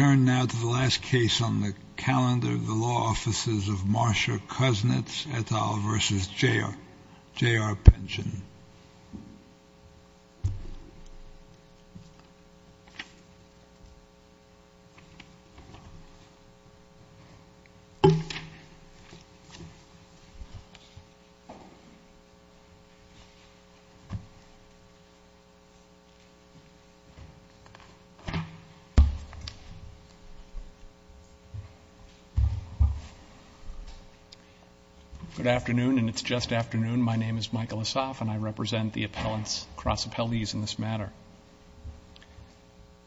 I turn now to the last case on the calendar of the Law Offices of Marcia Kuznets, et al. v. J.R. Pension. Good afternoon, and it's just afternoon. My name is Michael Asaf, and I represent the appellants, cross-appellees in this matter.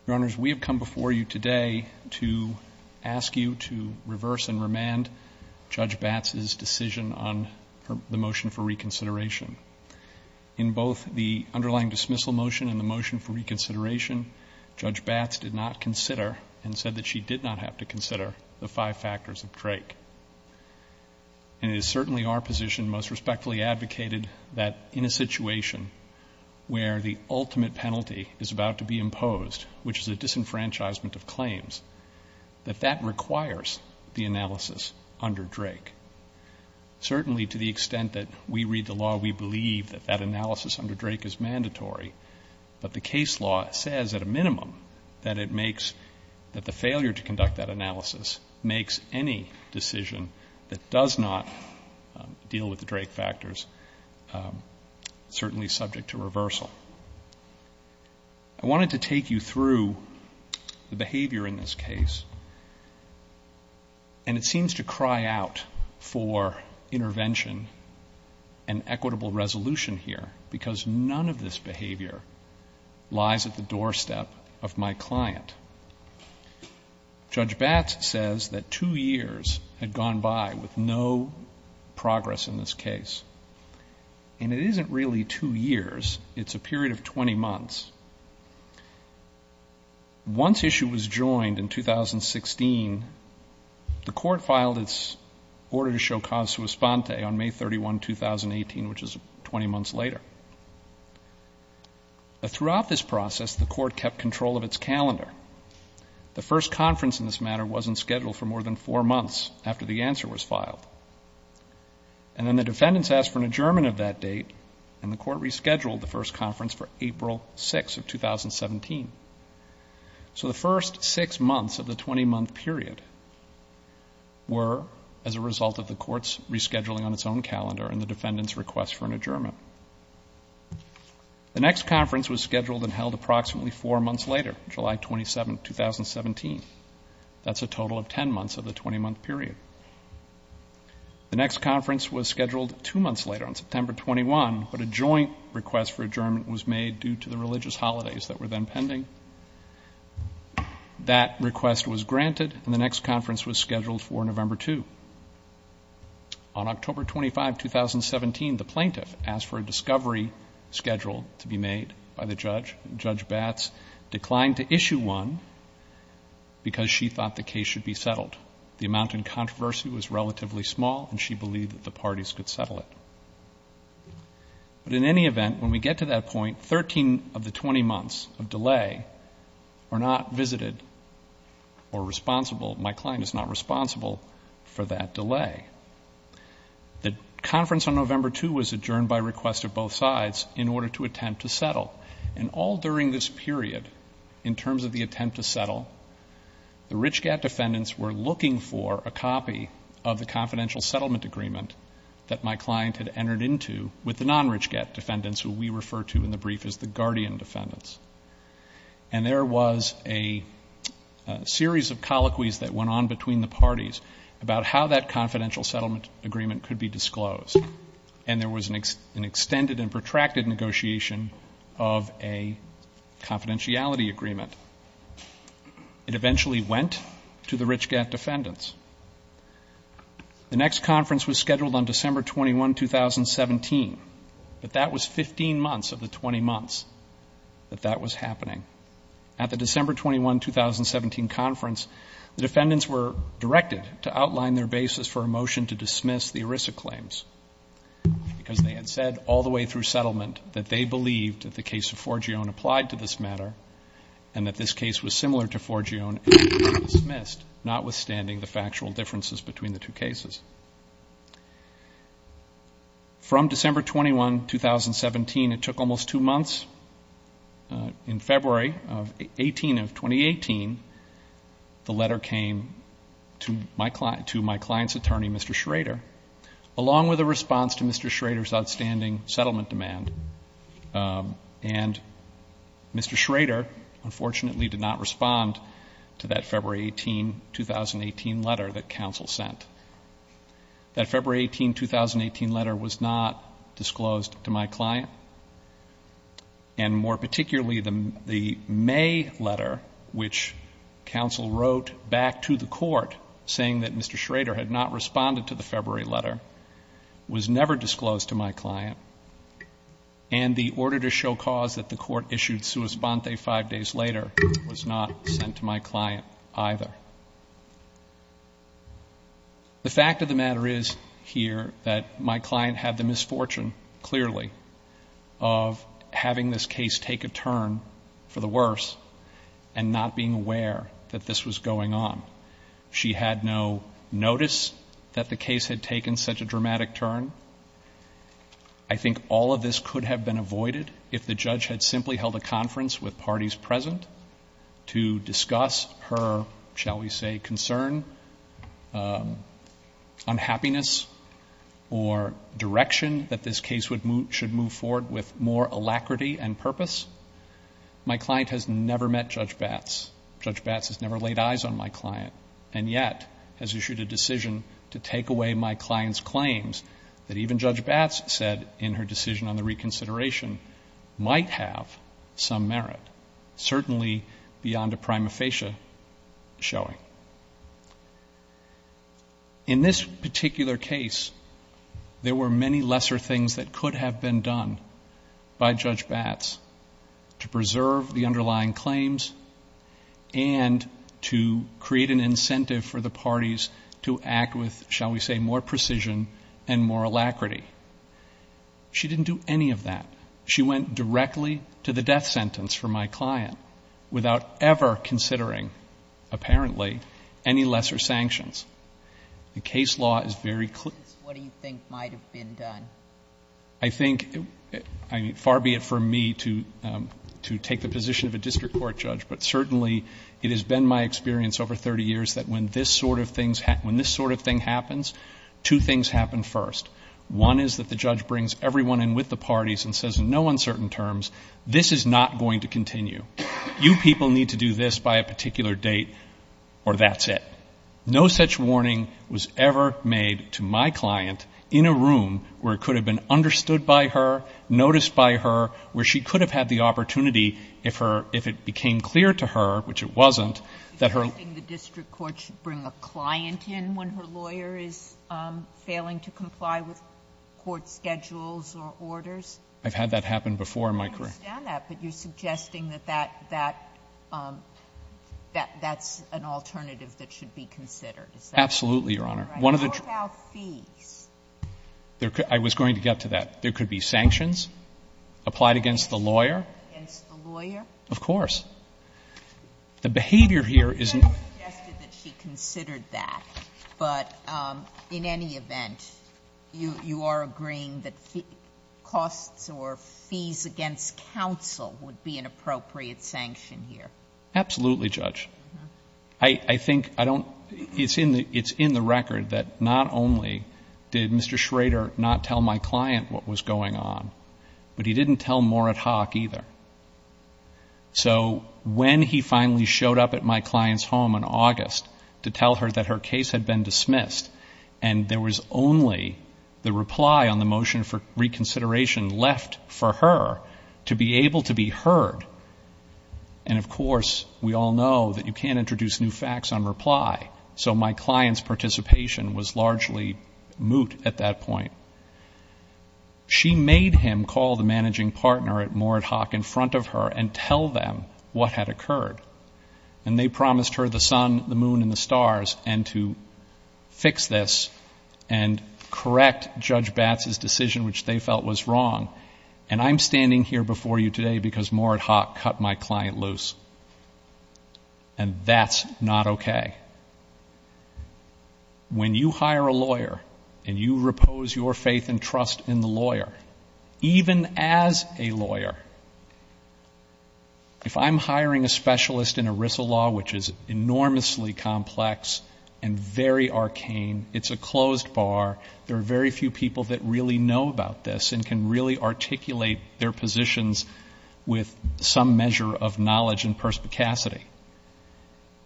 Your Honors, we have come before you today to ask you to reverse and remand Judge Batts' decision on the motion for reconsideration. In both the underlying dismissal motion and the motion for reconsideration, Judge Batts did not consider and said that she did not have to consider the five factors of Drake. And it is certainly our position, most respectfully advocated, that in a situation where the ultimate penalty is about to be imposed, which is a disenfranchisement of claims, that that requires the analysis under Drake. Certainly, to the extent that we read the law, we believe that that analysis under Drake is mandatory, but the case law says at a minimum that it makes, that the failure to conduct that analysis makes any decision that does not deal with the Drake factors certainly subject to reversal. I wanted to take you through the behavior in this case, and it seems to cry out for intervention and equitable resolution here, because none of this behavior lies at the doorstep of my client. Judge Batts says that two years had gone by with no progress in this case. And it isn't really two years. It's a period of 20 months. Once issue was joined in 2016, the Court filed its order to show cause to respond to on May 31, 2018, which is 20 months later. Throughout this process, the Court kept control of its calendar. The first conference in this matter wasn't scheduled for more than four months after the answer was filed. And then the defendants asked for an adjournment of that date, and the Court rescheduled the first conference for April 6 of 2017. So the first six months of the 20-month period were as a result of the Court's rescheduling on its own calendar and the defendants' request for an adjournment. The next conference was scheduled and held approximately four months later, July 27, 2017. That's a total of 10 months of the 20-month period. The next conference was scheduled two months later on September 21, but a joint request for adjournment was made due to the religious holidays that were then pending. That request was granted, and the next conference was scheduled for November 2. On October 25, 2017, the plaintiff asked for a discovery scheduled to be made by the judge. Judge Batts declined to issue one because she thought the case should be settled. The amount in controversy was relatively small, and she believed that the parties could settle it. But in any event, when we get to that point, 13 of the 20 months of delay are not visited or responsible. My client is not responsible for that delay. The conference on November 2 was adjourned by request of both sides in order to attempt to settle. And all during this period, in terms of the attempt to settle, the RichGAT defendants were looking for a copy of the confidential settlement agreement that my client had entered into with the non-RichGAT defendants, who we refer to in the brief as the guardian defendants. And there was a series of colloquies that went on between the parties about how that confidential settlement agreement could be disclosed. And there was an extended and protracted negotiation of a confidentiality agreement. It eventually went to the RichGAT defendants. The next conference was scheduled on December 21, 2017, but that was 15 months of the 20 months that that was happening. At the December 21, 2017 conference, the defendants were directed to outline their basis for a motion to dismiss the ERISA claims because they had said all the way through settlement that they believed that the case of Forgione applied to this matter and that this case was similar to Forgione and that it should be dismissed, notwithstanding the factual differences between the two cases. From December 21, 2017, it took almost two months. In February 18 of 2018, the letter came to my client's attorney, Mr. Schrader, along with a response to Mr. Schrader's outstanding settlement demand. And Mr. Schrader, unfortunately, did not respond to that February 18, 2018 letter that counsel sent. That February 18, 2018 letter was not disclosed to my client. And more particularly, the May letter, which counsel wrote back to the court, saying that Mr. Schrader had not responded to the February letter, was never disclosed to my client. And the order to show cause that the court issued sua sponte five days later was not sent to my client either. The fact of the matter is here that my client had the misfortune, clearly, of having this case take a turn for the worse and not being aware that this was going on. She had no notice that the case had taken such a dramatic turn. I think all of this could have been avoided if the judge had simply held a conference with parties present to discuss her, shall we say, concern, unhappiness, or direction that this case should move forward with more alacrity and purpose. My client has never met Judge Batts. Judge Batts has never laid eyes on my client and yet has issued a decision to take away my client's claims that even Judge Batts said in her decision on the reconsideration might have some merit, certainly beyond a prima facie showing. In this particular case, there were many lesser things that could have been done by Judge Batts to preserve the underlying claims and to create an incentive for the parties to act with, shall we say, more precision and more alacrity. She didn't do any of that. She went directly to the death sentence for my client without ever considering, apparently, any lesser sanctions. The case law is very clear. I think, far be it from me to take the position of a district court judge, but certainly it has been my experience over 30 years that when this sort of thing happens, two things happen first. One is that the judge brings everyone in with the parties and says in no uncertain terms, this is not going to continue. You people need to do this by a particular date or that's it. No such warning was ever made to my client in a room where it could have been understood by her, noticed by her, where she could have had the opportunity if it became clear to her, which it wasn't, that her... I've had that happen before in my career. Absolutely, Your Honor. I was going to get to that. There could be sanctions applied against the lawyer. Of course. The behavior here isn't... You have suggested that she considered that, but in any event, you are agreeing that costs or fees against counsel would be an appropriate sanction here? Absolutely, Judge. I think I don't... It's in the record that not only did Mr. Schrader not tell my client what was going on, but he didn't tell Morit Hock either. So when he finally showed up at my client's home in August to tell her that her case had been dismissed and there was only the reply on the motion for reconsideration left for her to be able to be heard, and of course we all know that you can't introduce new facts on reply, so my client's participation was largely moot at that point, she made him call the managing partner at Morit Hock in front of her and tell them what had occurred. And they promised her the sun, the moon, and the stars, and to fix this and correct Judge Batts's decision, which they felt was wrong. And I'm standing here before you today because Morit Hock cut my client loose. And that's not okay. When you hire a lawyer and you repose your faith and trust in the lawyer, even as a lawyer, if I'm hiring a specialist in ERISA law, which is enormously complex and very arcane, it's a closed bar, there are very few people that really know about this and can really articulate their positions with some measure of knowledge and perspicacity.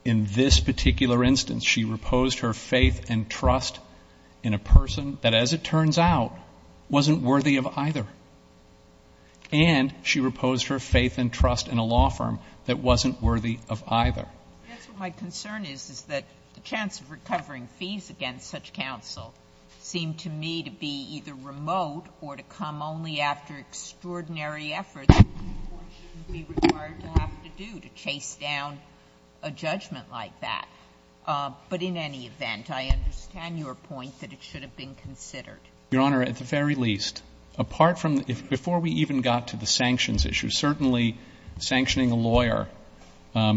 In this particular instance, she reposed her faith and trust in a person that, as it turns out, wasn't worthy of either. And she reposed her faith and trust in a law firm that wasn't worthy of either. That's what my concern is, is that the chance of recovering fees against such counsel seemed to me to be either remote or to come only after extraordinary effort that the Court shouldn't be required to have to do to chase down a judgment like that. But in any event, I understand your point that it should have been considered. Your Honor, at the very least, apart from the — before we even got to the sanctions issue, certainly sanctioning a lawyer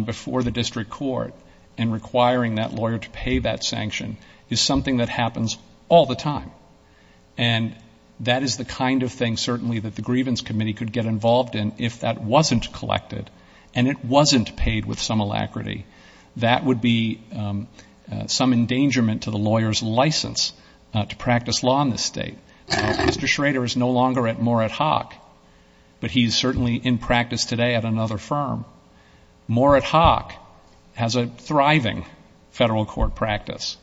before the district court and requiring that lawyer to pay that sanction is something that happens all the time. And that is the kind of thing, certainly, that the Grievance Committee could get involved in if that wasn't collected and it wasn't paid with some alacrity. That would be some endangerment to the lawyer's license to practice law in this State. Mr. Schrader is no longer at Moret Hawk, but he's certainly in practice today at another firm. Moret Hawk has a thriving federal court practice.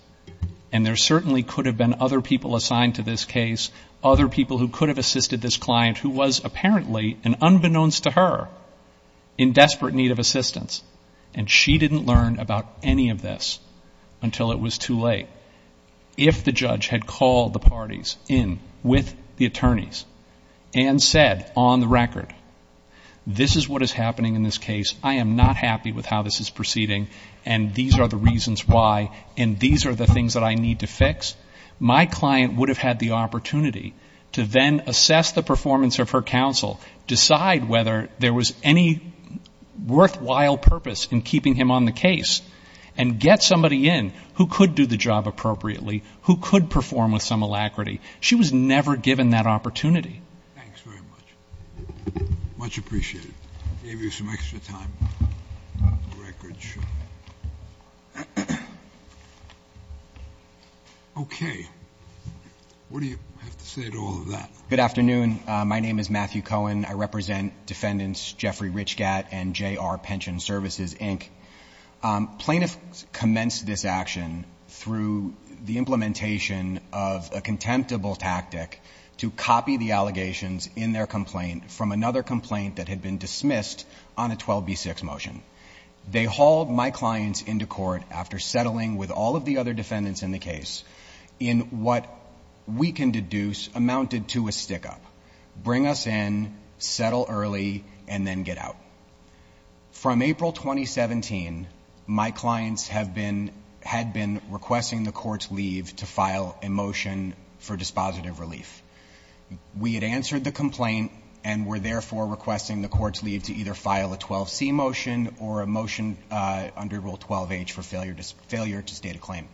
And there certainly could have been other people assigned to this case, other people who could have assisted this client who was apparently, and unbeknownst to her, in desperate need of assistance. And she didn't learn about any of this until it was too late. But if the judge had called the parties in with the attorneys and said, on the record, this is what is happening in this case, I am not happy with how this is proceeding, and these are the reasons why, and these are the things that I need to fix, my client would have had the opportunity to then assess the performance of her counsel, decide whether there was any worthwhile purpose in keeping him on the case, and get somebody in who could do the job appropriately, who could perform with some alacrity. She was never given that opportunity. Thanks very much. Much appreciated. Gave you some extra time. Okay. What do you have to say to all of that? Good afternoon. My name is Matthew Cohen. I represent defendants Jeffrey Richgatt and J.R. Pension Services, Inc. Plaintiffs commenced this action through the implementation of a contemptible tactic to copy the allegations in their complaint from another complaint that had been dismissed on a 12b6 motion. They hauled my clients into court after settling with all of the other defendants in the case in what we can deduce amounted to a stick-up. Bring us in, settle early, and then get out. From April 2017, my clients had been requesting the court's leave to file a motion for dispositive relief. We had answered the complaint and were therefore requesting the court's leave to either file a 12c motion or a motion under Rule 12h for failure to state a claim.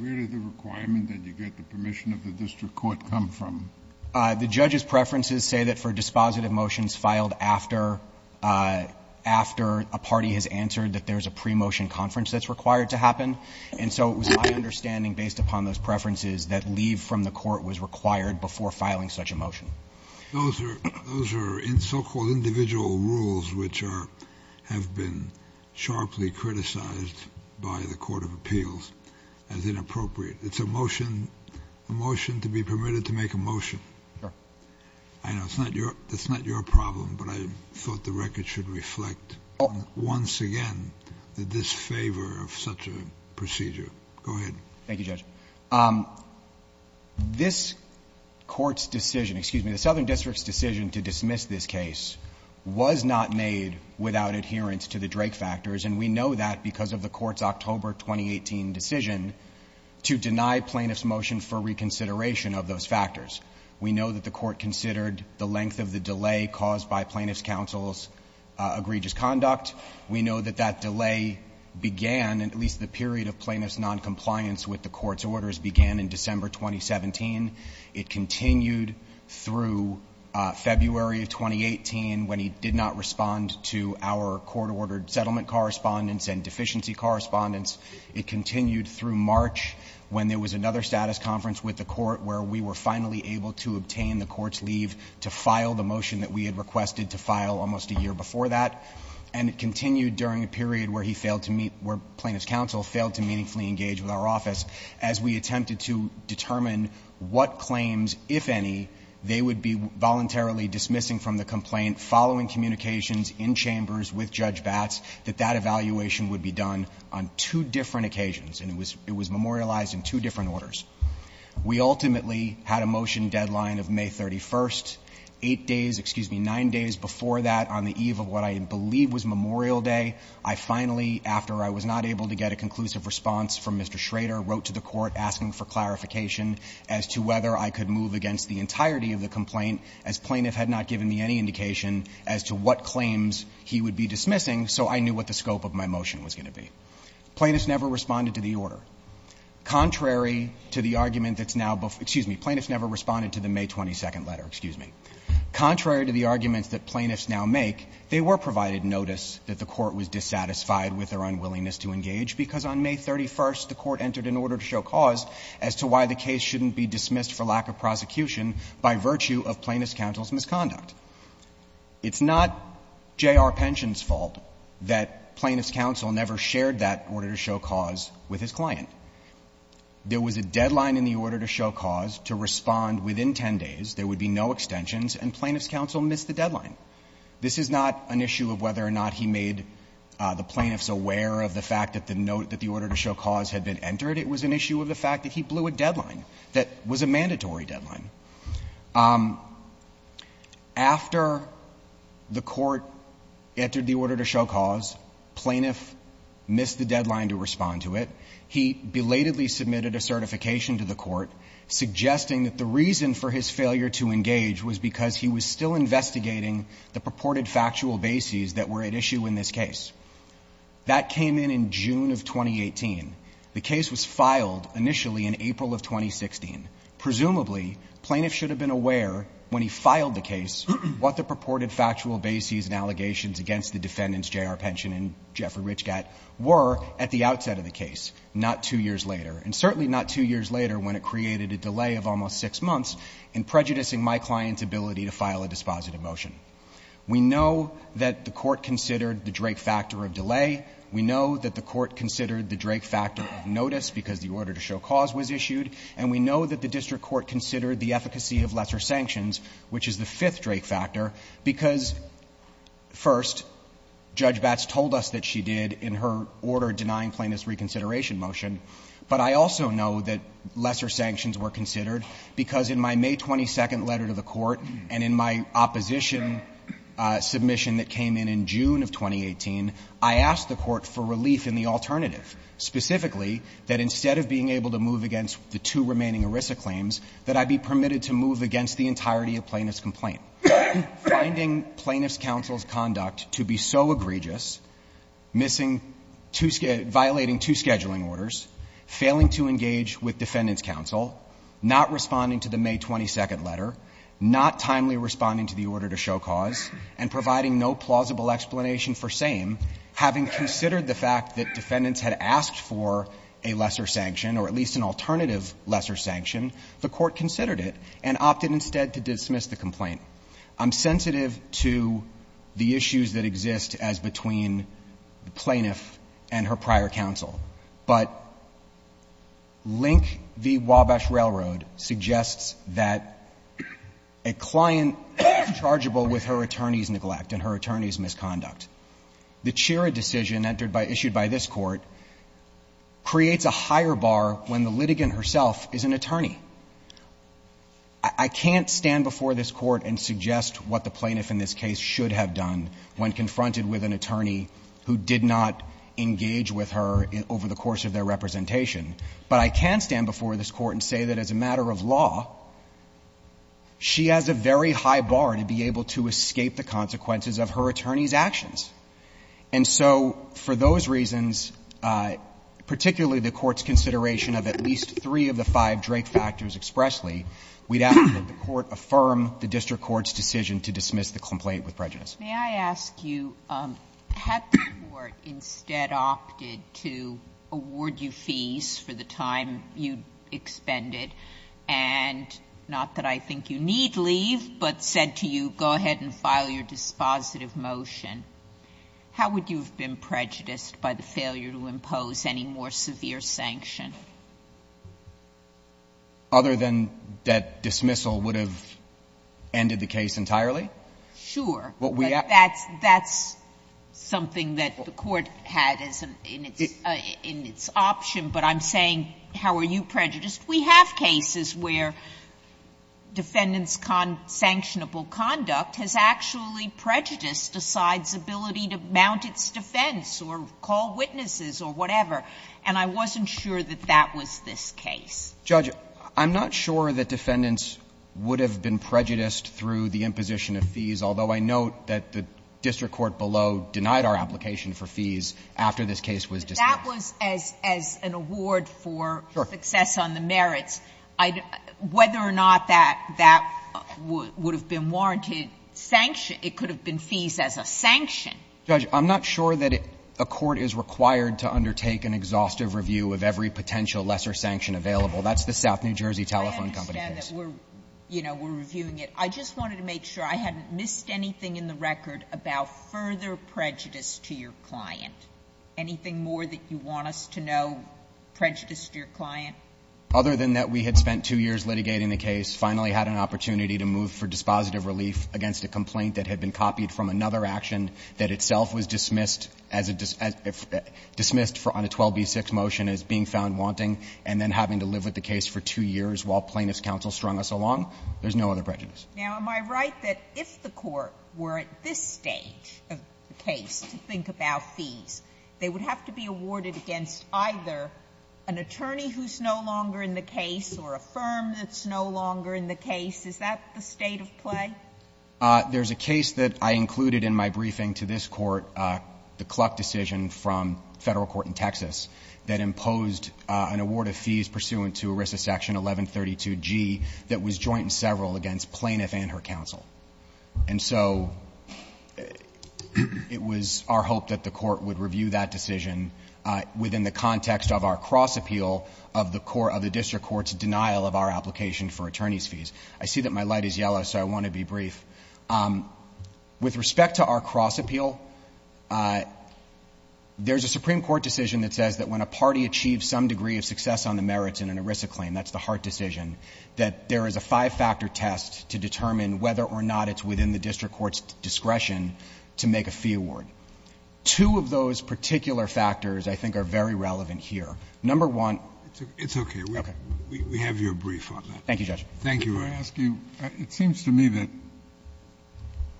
Where did the requirement that you get the permission of the district court come from? The judge's preferences say that for dispositive motions filed after a party has answered that there's a pre-motion conference that's required to happen, and so it was my understanding, based upon those preferences, that leave from the court was required before filing such a motion. Those are so-called individual rules which are have been sharply criticized by the court of appeals as inappropriate. It's a motion to be permitted to make a motion. I know it's not your problem, but I thought the record should reflect once again the disfavor of such a procedure. Go ahead. Thank you, Judge. This Court's decision, excuse me, the Southern District's decision to dismiss this case was not made without adherence to the Drake factors, and we know that because of the Court's October 2018 decision to deny plaintiffs' motion for reconsideration of those factors. We know that the Court considered the length of the delay caused by plaintiffs' counsel's egregious conduct. We know that that delay began, at least the period of plaintiffs' noncompliance with the Court's orders began in December 2017. It continued through February of 2018 when he did not respond to our court-ordered settlement correspondence and deficiency correspondence. It continued through March when there was another status conference with the Court where we were finally able to obtain the Court's leave to file the motion that we had requested to file almost a year before that. And it continued during a period where he failed to meet, where plaintiffs' counsel failed to meaningfully engage with our office as we attempted to determine what claims, if any, they would be voluntarily dismissing from the complaint following communications in chambers with Judge Batts that that evaluation would be done on two different occasions, and it was memorialized in two different orders. We ultimately had a motion deadline of May 31st. Eight days, excuse me, nine days before that, on the eve of what I believe was Memorial Day, I finally, after I was not able to get a conclusive response from Mr. Schrader, wrote to the Court asking for clarification as to whether I could move against the entirety of the complaint as plaintiff had not given me any indication as to what claims he would be dismissing, so I knew what the scope of my motion was going to be. Plaintiffs never responded to the order. Contrary to the argument that's now before you, excuse me, plaintiffs never responded to the May 22nd letter, excuse me. Contrary to the arguments that plaintiffs now make, they were provided notice that the Court was dissatisfied with their unwillingness to engage because on May 31st, the Court entered an order to show cause as to why the case shouldn't be dismissed for lack of prosecution by virtue of plaintiff's counsel's misconduct. It's not J.R. Pension's fault that plaintiff's counsel never shared that order to show cause with his client. There was a deadline in the order to show cause to respond within 10 days. There would be no extensions, and plaintiff's counsel missed the deadline. This is not an issue of whether or not he made the plaintiffs aware of the fact that the note that the order to show cause had been entered. It was an issue of the fact that he blew a deadline that was a mandatory deadline. After the Court entered the order to show cause, plaintiff missed the deadline to respond to it. He belatedly submitted a certification to the Court suggesting that the reason for his failure to engage was because he was still investigating the purported factual bases that were at issue in this case. That came in in June of 2018. The case was filed initially in April of 2016. Presumably, plaintiffs should have been aware when he filed the case what the purported factual bases and allegations against the defendants, J.R. Pension and Jeffrey H. Gatt, were at the outset of the case, not two years later, and certainly not two years later when it created a delay of almost six months in prejudicing my client's ability to file a dispositive motion. We know that the Court considered the Drake factor of delay. We know that the Court considered the Drake factor of notice because the order to show cause was issued. And we know that the district court considered the efficacy of lesser sanctions, which is the fifth Drake factor, because, first, Judge Batts told us that she did in her order denying plaintiffs reconsideration motion. But I also know that lesser sanctions were considered because in my May 22 letter to the Court and in my opposition submission that came in in June of 2018, I asked the Court for relief in the alternative, specifically that instead of being able to move against the two remaining ERISA claims, that I be permitted to move against the entirety of plaintiff's complaint. Finding plaintiff's counsel's conduct to be so egregious, violating two scheduling orders, failing to engage with defendant's counsel, not responding to the May 22 letter, not timely responding to the order to show cause, and providing no plausible explanation for same, having considered the fact that defendants had asked for a lesser sanction, the Court considered it and opted instead to dismiss the complaint. I'm sensitive to the issues that exist as between the plaintiff and her prior counsel, but Link v. Wabash Railroad suggests that a client is chargeable with her attorney's neglect and her attorney's misconduct. The Chira decision entered by issued by this Court creates a higher bar when the litigant herself is an attorney. I can't stand before this Court and suggest what the plaintiff in this case should have done when confronted with an attorney who did not engage with her over the course of their representation, but I can stand before this Court and say that as a matter of law, she has a very high bar to be able to escape the consequences of her attorney's actions. And so for those reasons, particularly the Court's consideration of at least three of the five Drake factors expressly, we'd ask that the Court affirm the district court's decision to dismiss the complaint with prejudice. Sotomayor, may I ask you, had the Court instead opted to award you fees for the time you expended, and not that I think you need leave, but said to you, go ahead and file your dispositive motion, how would you have been prejudiced by the failure to impose any more severe sanction? Other than that dismissal would have ended the case entirely? Sure. But that's something that the Court had in its option, but I'm saying, how are you prejudiced? We have cases where defendant's sanctionable conduct has actually prejudiced a side's ability to mount its defense or call witnesses or whatever, and I wasn't sure that that was this case. Judge, I'm not sure that defendants would have been prejudiced through the imposition of fees, although I note that the district court below denied our application for fees after this case was dismissed. If that was as an award for success on the merits, whether or not that would have been warranted sanction, it could have been fees as a sanction. Judge, I'm not sure that a court is required to undertake an exhaustive review of every potential lesser sanction available. That's the South New Jersey Telephone Company case. I understand that we're reviewing it. I just wanted to make sure I hadn't missed anything in the record about further prejudice to your client. Anything more that you want us to know prejudiced your client? Other than that we had spent two years litigating the case, finally had an opportunity to move for dispositive relief against a complaint that had been copied from another action that itself was dismissed as a 12b6 motion as being found wanting, and then having to live with the case for two years while plaintiff's counsel strung us along, there's no other prejudice. Now, am I right that if the Court were at this stage of the case to think about fees, they would have to be awarded against either an attorney who's no longer in the case or a firm that's no longer in the case? Is that the state of play? There's a case that I included in my briefing to this Court, the Kluck decision from Federal Court in Texas, that imposed an award of fees pursuant to ERISA Section 1132G that was joint and several against plaintiff and her counsel. And so it was our hope that the Court would review that decision within the context of our cross-appeal of the District Court's denial of our application for attorney's fees. I see that my light is yellow, so I want to be brief. With respect to our cross-appeal, there's a Supreme Court decision that says that when a party achieves some degree of success on the merits in an ERISA claim, that's the Hart decision, that there is a five-factor test to determine whether or not it's within the District Court's discretion to make a fee award. Two of those particular factors, I think, are very relevant here. Number one — It's okay. Okay. We have your brief on that. Thank you, Judge. Thank you. May I ask you — it seems to me that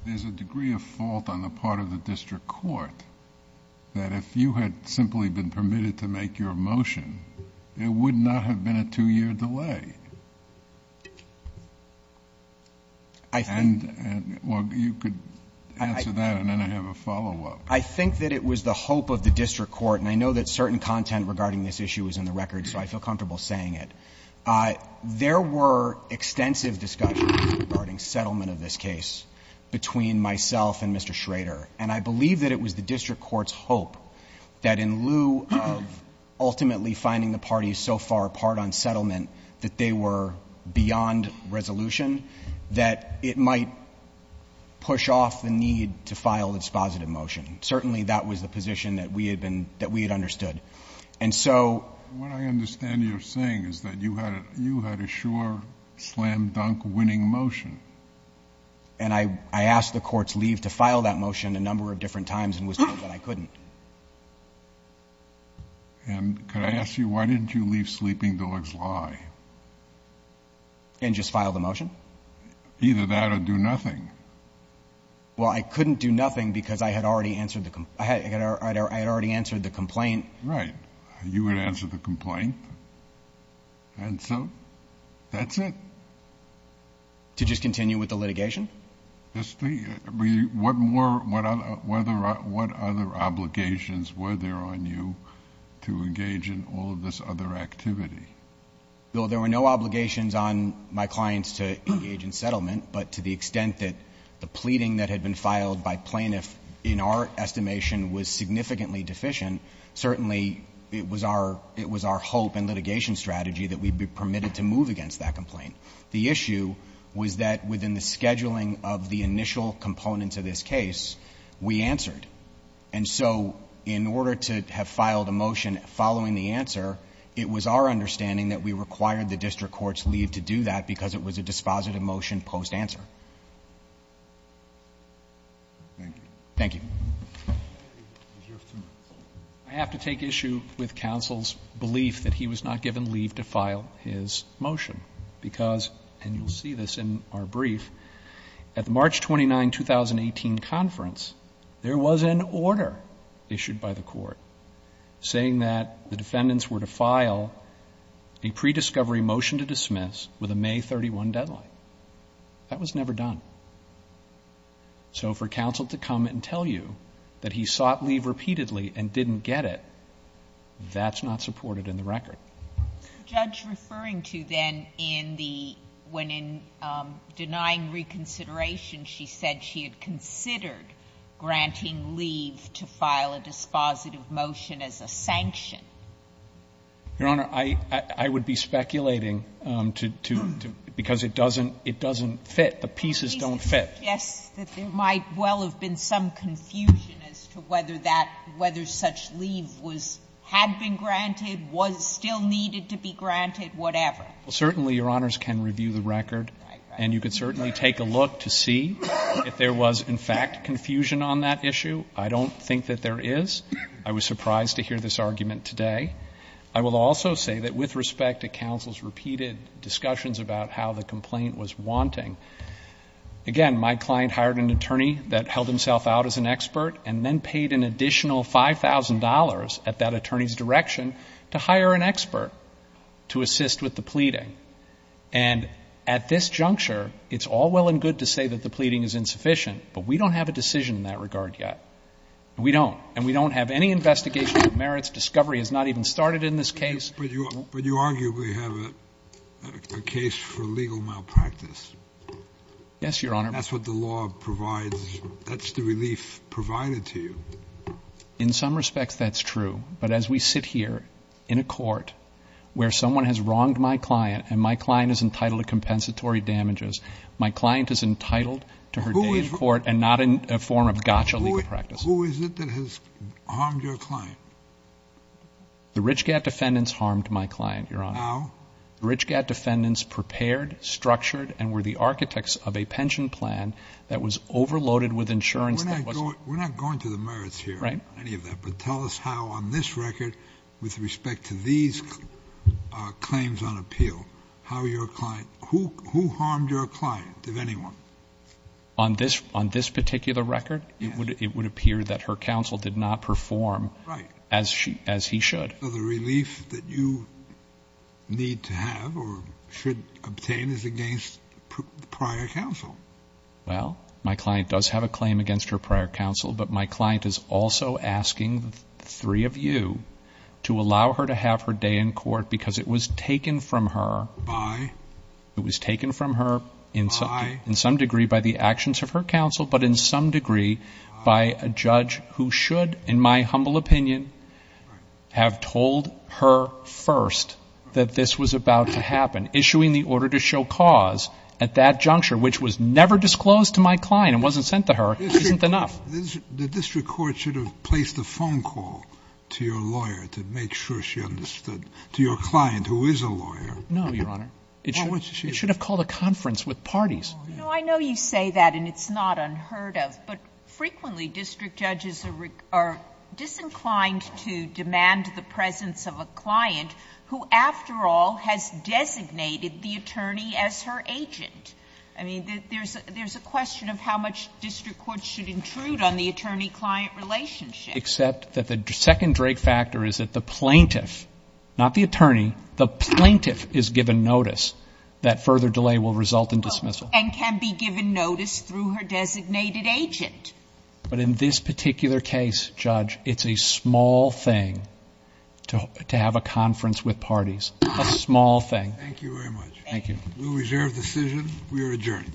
there's a degree of fault on the part of the make your motion. There would not have been a two-year delay. I think — Well, you could answer that, and then I have a follow-up. I think that it was the hope of the District Court, and I know that certain content regarding this issue is in the record, so I feel comfortable saying it. There were extensive discussions regarding settlement of this case between myself and Mr. Schrader, and I believe that it was the District Court's hope that in lieu of ultimately finding the parties so far apart on settlement that they were beyond resolution, that it might push off the need to file its positive motion. Certainly, that was the position that we had been — that we had understood. And so — What I understand you're saying is that you had a sure slam-dunk winning motion. And I asked the courts leave to file that motion a number of different times and was told that I couldn't. And could I ask you, why didn't you leave Sleeping Dogs' Lie? And just file the motion? Either that or do nothing. Well, I couldn't do nothing because I had already answered the — I had already answered the complaint. Right. You had answered the complaint. And so that's it. To just continue with the litigation? Just — what more — what other obligations were there on you to engage in all of this other activity? Bill, there were no obligations on my clients to engage in settlement. But to the extent that the pleading that had been filed by plaintiffs, in our estimation, was significantly deficient, certainly it was our hope and litigation strategy that we'd be permitted to move against that complaint. The issue was that within the scheduling of the initial components of this case, we answered. And so in order to have filed a motion following the answer, it was our understanding that we required the district court's leave to do that because it was a dispositive motion post-answer. Thank you. Thank you. I have to take issue with counsel's belief that he was not given leave to file his motion because — and you'll see this in our brief — at the March 29, 2018, conference, there was an order issued by the court saying that the defendants were to file a prediscovery motion to dismiss with a May 31 deadline. That was never done. So for counsel to come and tell you that he sought leave repeatedly and didn't get it, that's not supported in the record. What was the judge referring to then in the — when in denying reconsideration she said she had considered granting leave to file a dispositive motion as a sanction? Your Honor, I would be speculating to — because it doesn't fit. The pieces don't fit. The pieces suggest that there might well have been some confusion as to whether that — whether such leave was — had been granted, was still needed to be granted, whatever. Well, certainly, Your Honors can review the record. Right, right. And you could certainly take a look to see if there was in fact confusion on that issue. I don't think that there is. I was surprised to hear this argument today. I will also say that with respect to counsel's repeated discussions about how the Again, my client hired an attorney that held himself out as an expert and then paid an additional $5,000 at that attorney's direction to hire an expert to assist with the pleading. And at this juncture, it's all well and good to say that the pleading is insufficient, but we don't have a decision in that regard yet. We don't. And we don't have any investigation of merits. Discovery has not even started in this case. But you arguably have a case for legal malpractice. Yes, Your Honor. That's what the law provides. That's the relief provided to you. In some respects, that's true. But as we sit here in a court where someone has wronged my client and my client is entitled to compensatory damages, my client is entitled to her day in court and not in a form of gotcha legal practice. Who is it that has harmed your client? The Richgad defendants harmed my client, Your Honor. How? The Richgad defendants prepared, structured, and were the architects of a pension plan that was overloaded with insurance. We're not going to the merits here. Right. Any of that. But tell us how on this record with respect to these claims on appeal, how your client – who harmed your client, if anyone? On this particular record? Yes. It would appear that her counsel did not perform. Right. As he should. So the relief that you need to have or should obtain is against prior counsel. Well, my client does have a claim against her prior counsel, but my client is also asking the three of you to allow her to have her day in court because it was taken from her. By? It was taken from her in some degree by the actions of her counsel, but in some degree by a judge who should, in my humble opinion, have told her first that this was about to happen. Issuing the order to show cause at that juncture, which was never disclosed to my client and wasn't sent to her, isn't enough. The district court should have placed a phone call to your lawyer to make sure she understood – to your client, who is a lawyer. No, Your Honor. It should have called a conference with parties. No, I know you say that and it's not unheard of, but frequently district judges are disinclined to demand the presence of a client who, after all, has designated the attorney as her agent. I mean, there's a question of how much district courts should intrude on the attorney-client relationship. Except that the second Drake factor is that the plaintiff, not the attorney, the plaintiff is given notice, that further delay will result in dismissal. And can be given notice through her designated agent. But in this particular case, Judge, it's a small thing to have a conference with parties. A small thing. Thank you very much. Thank you. We reserve the decision. We are adjourned. Court is adjourned.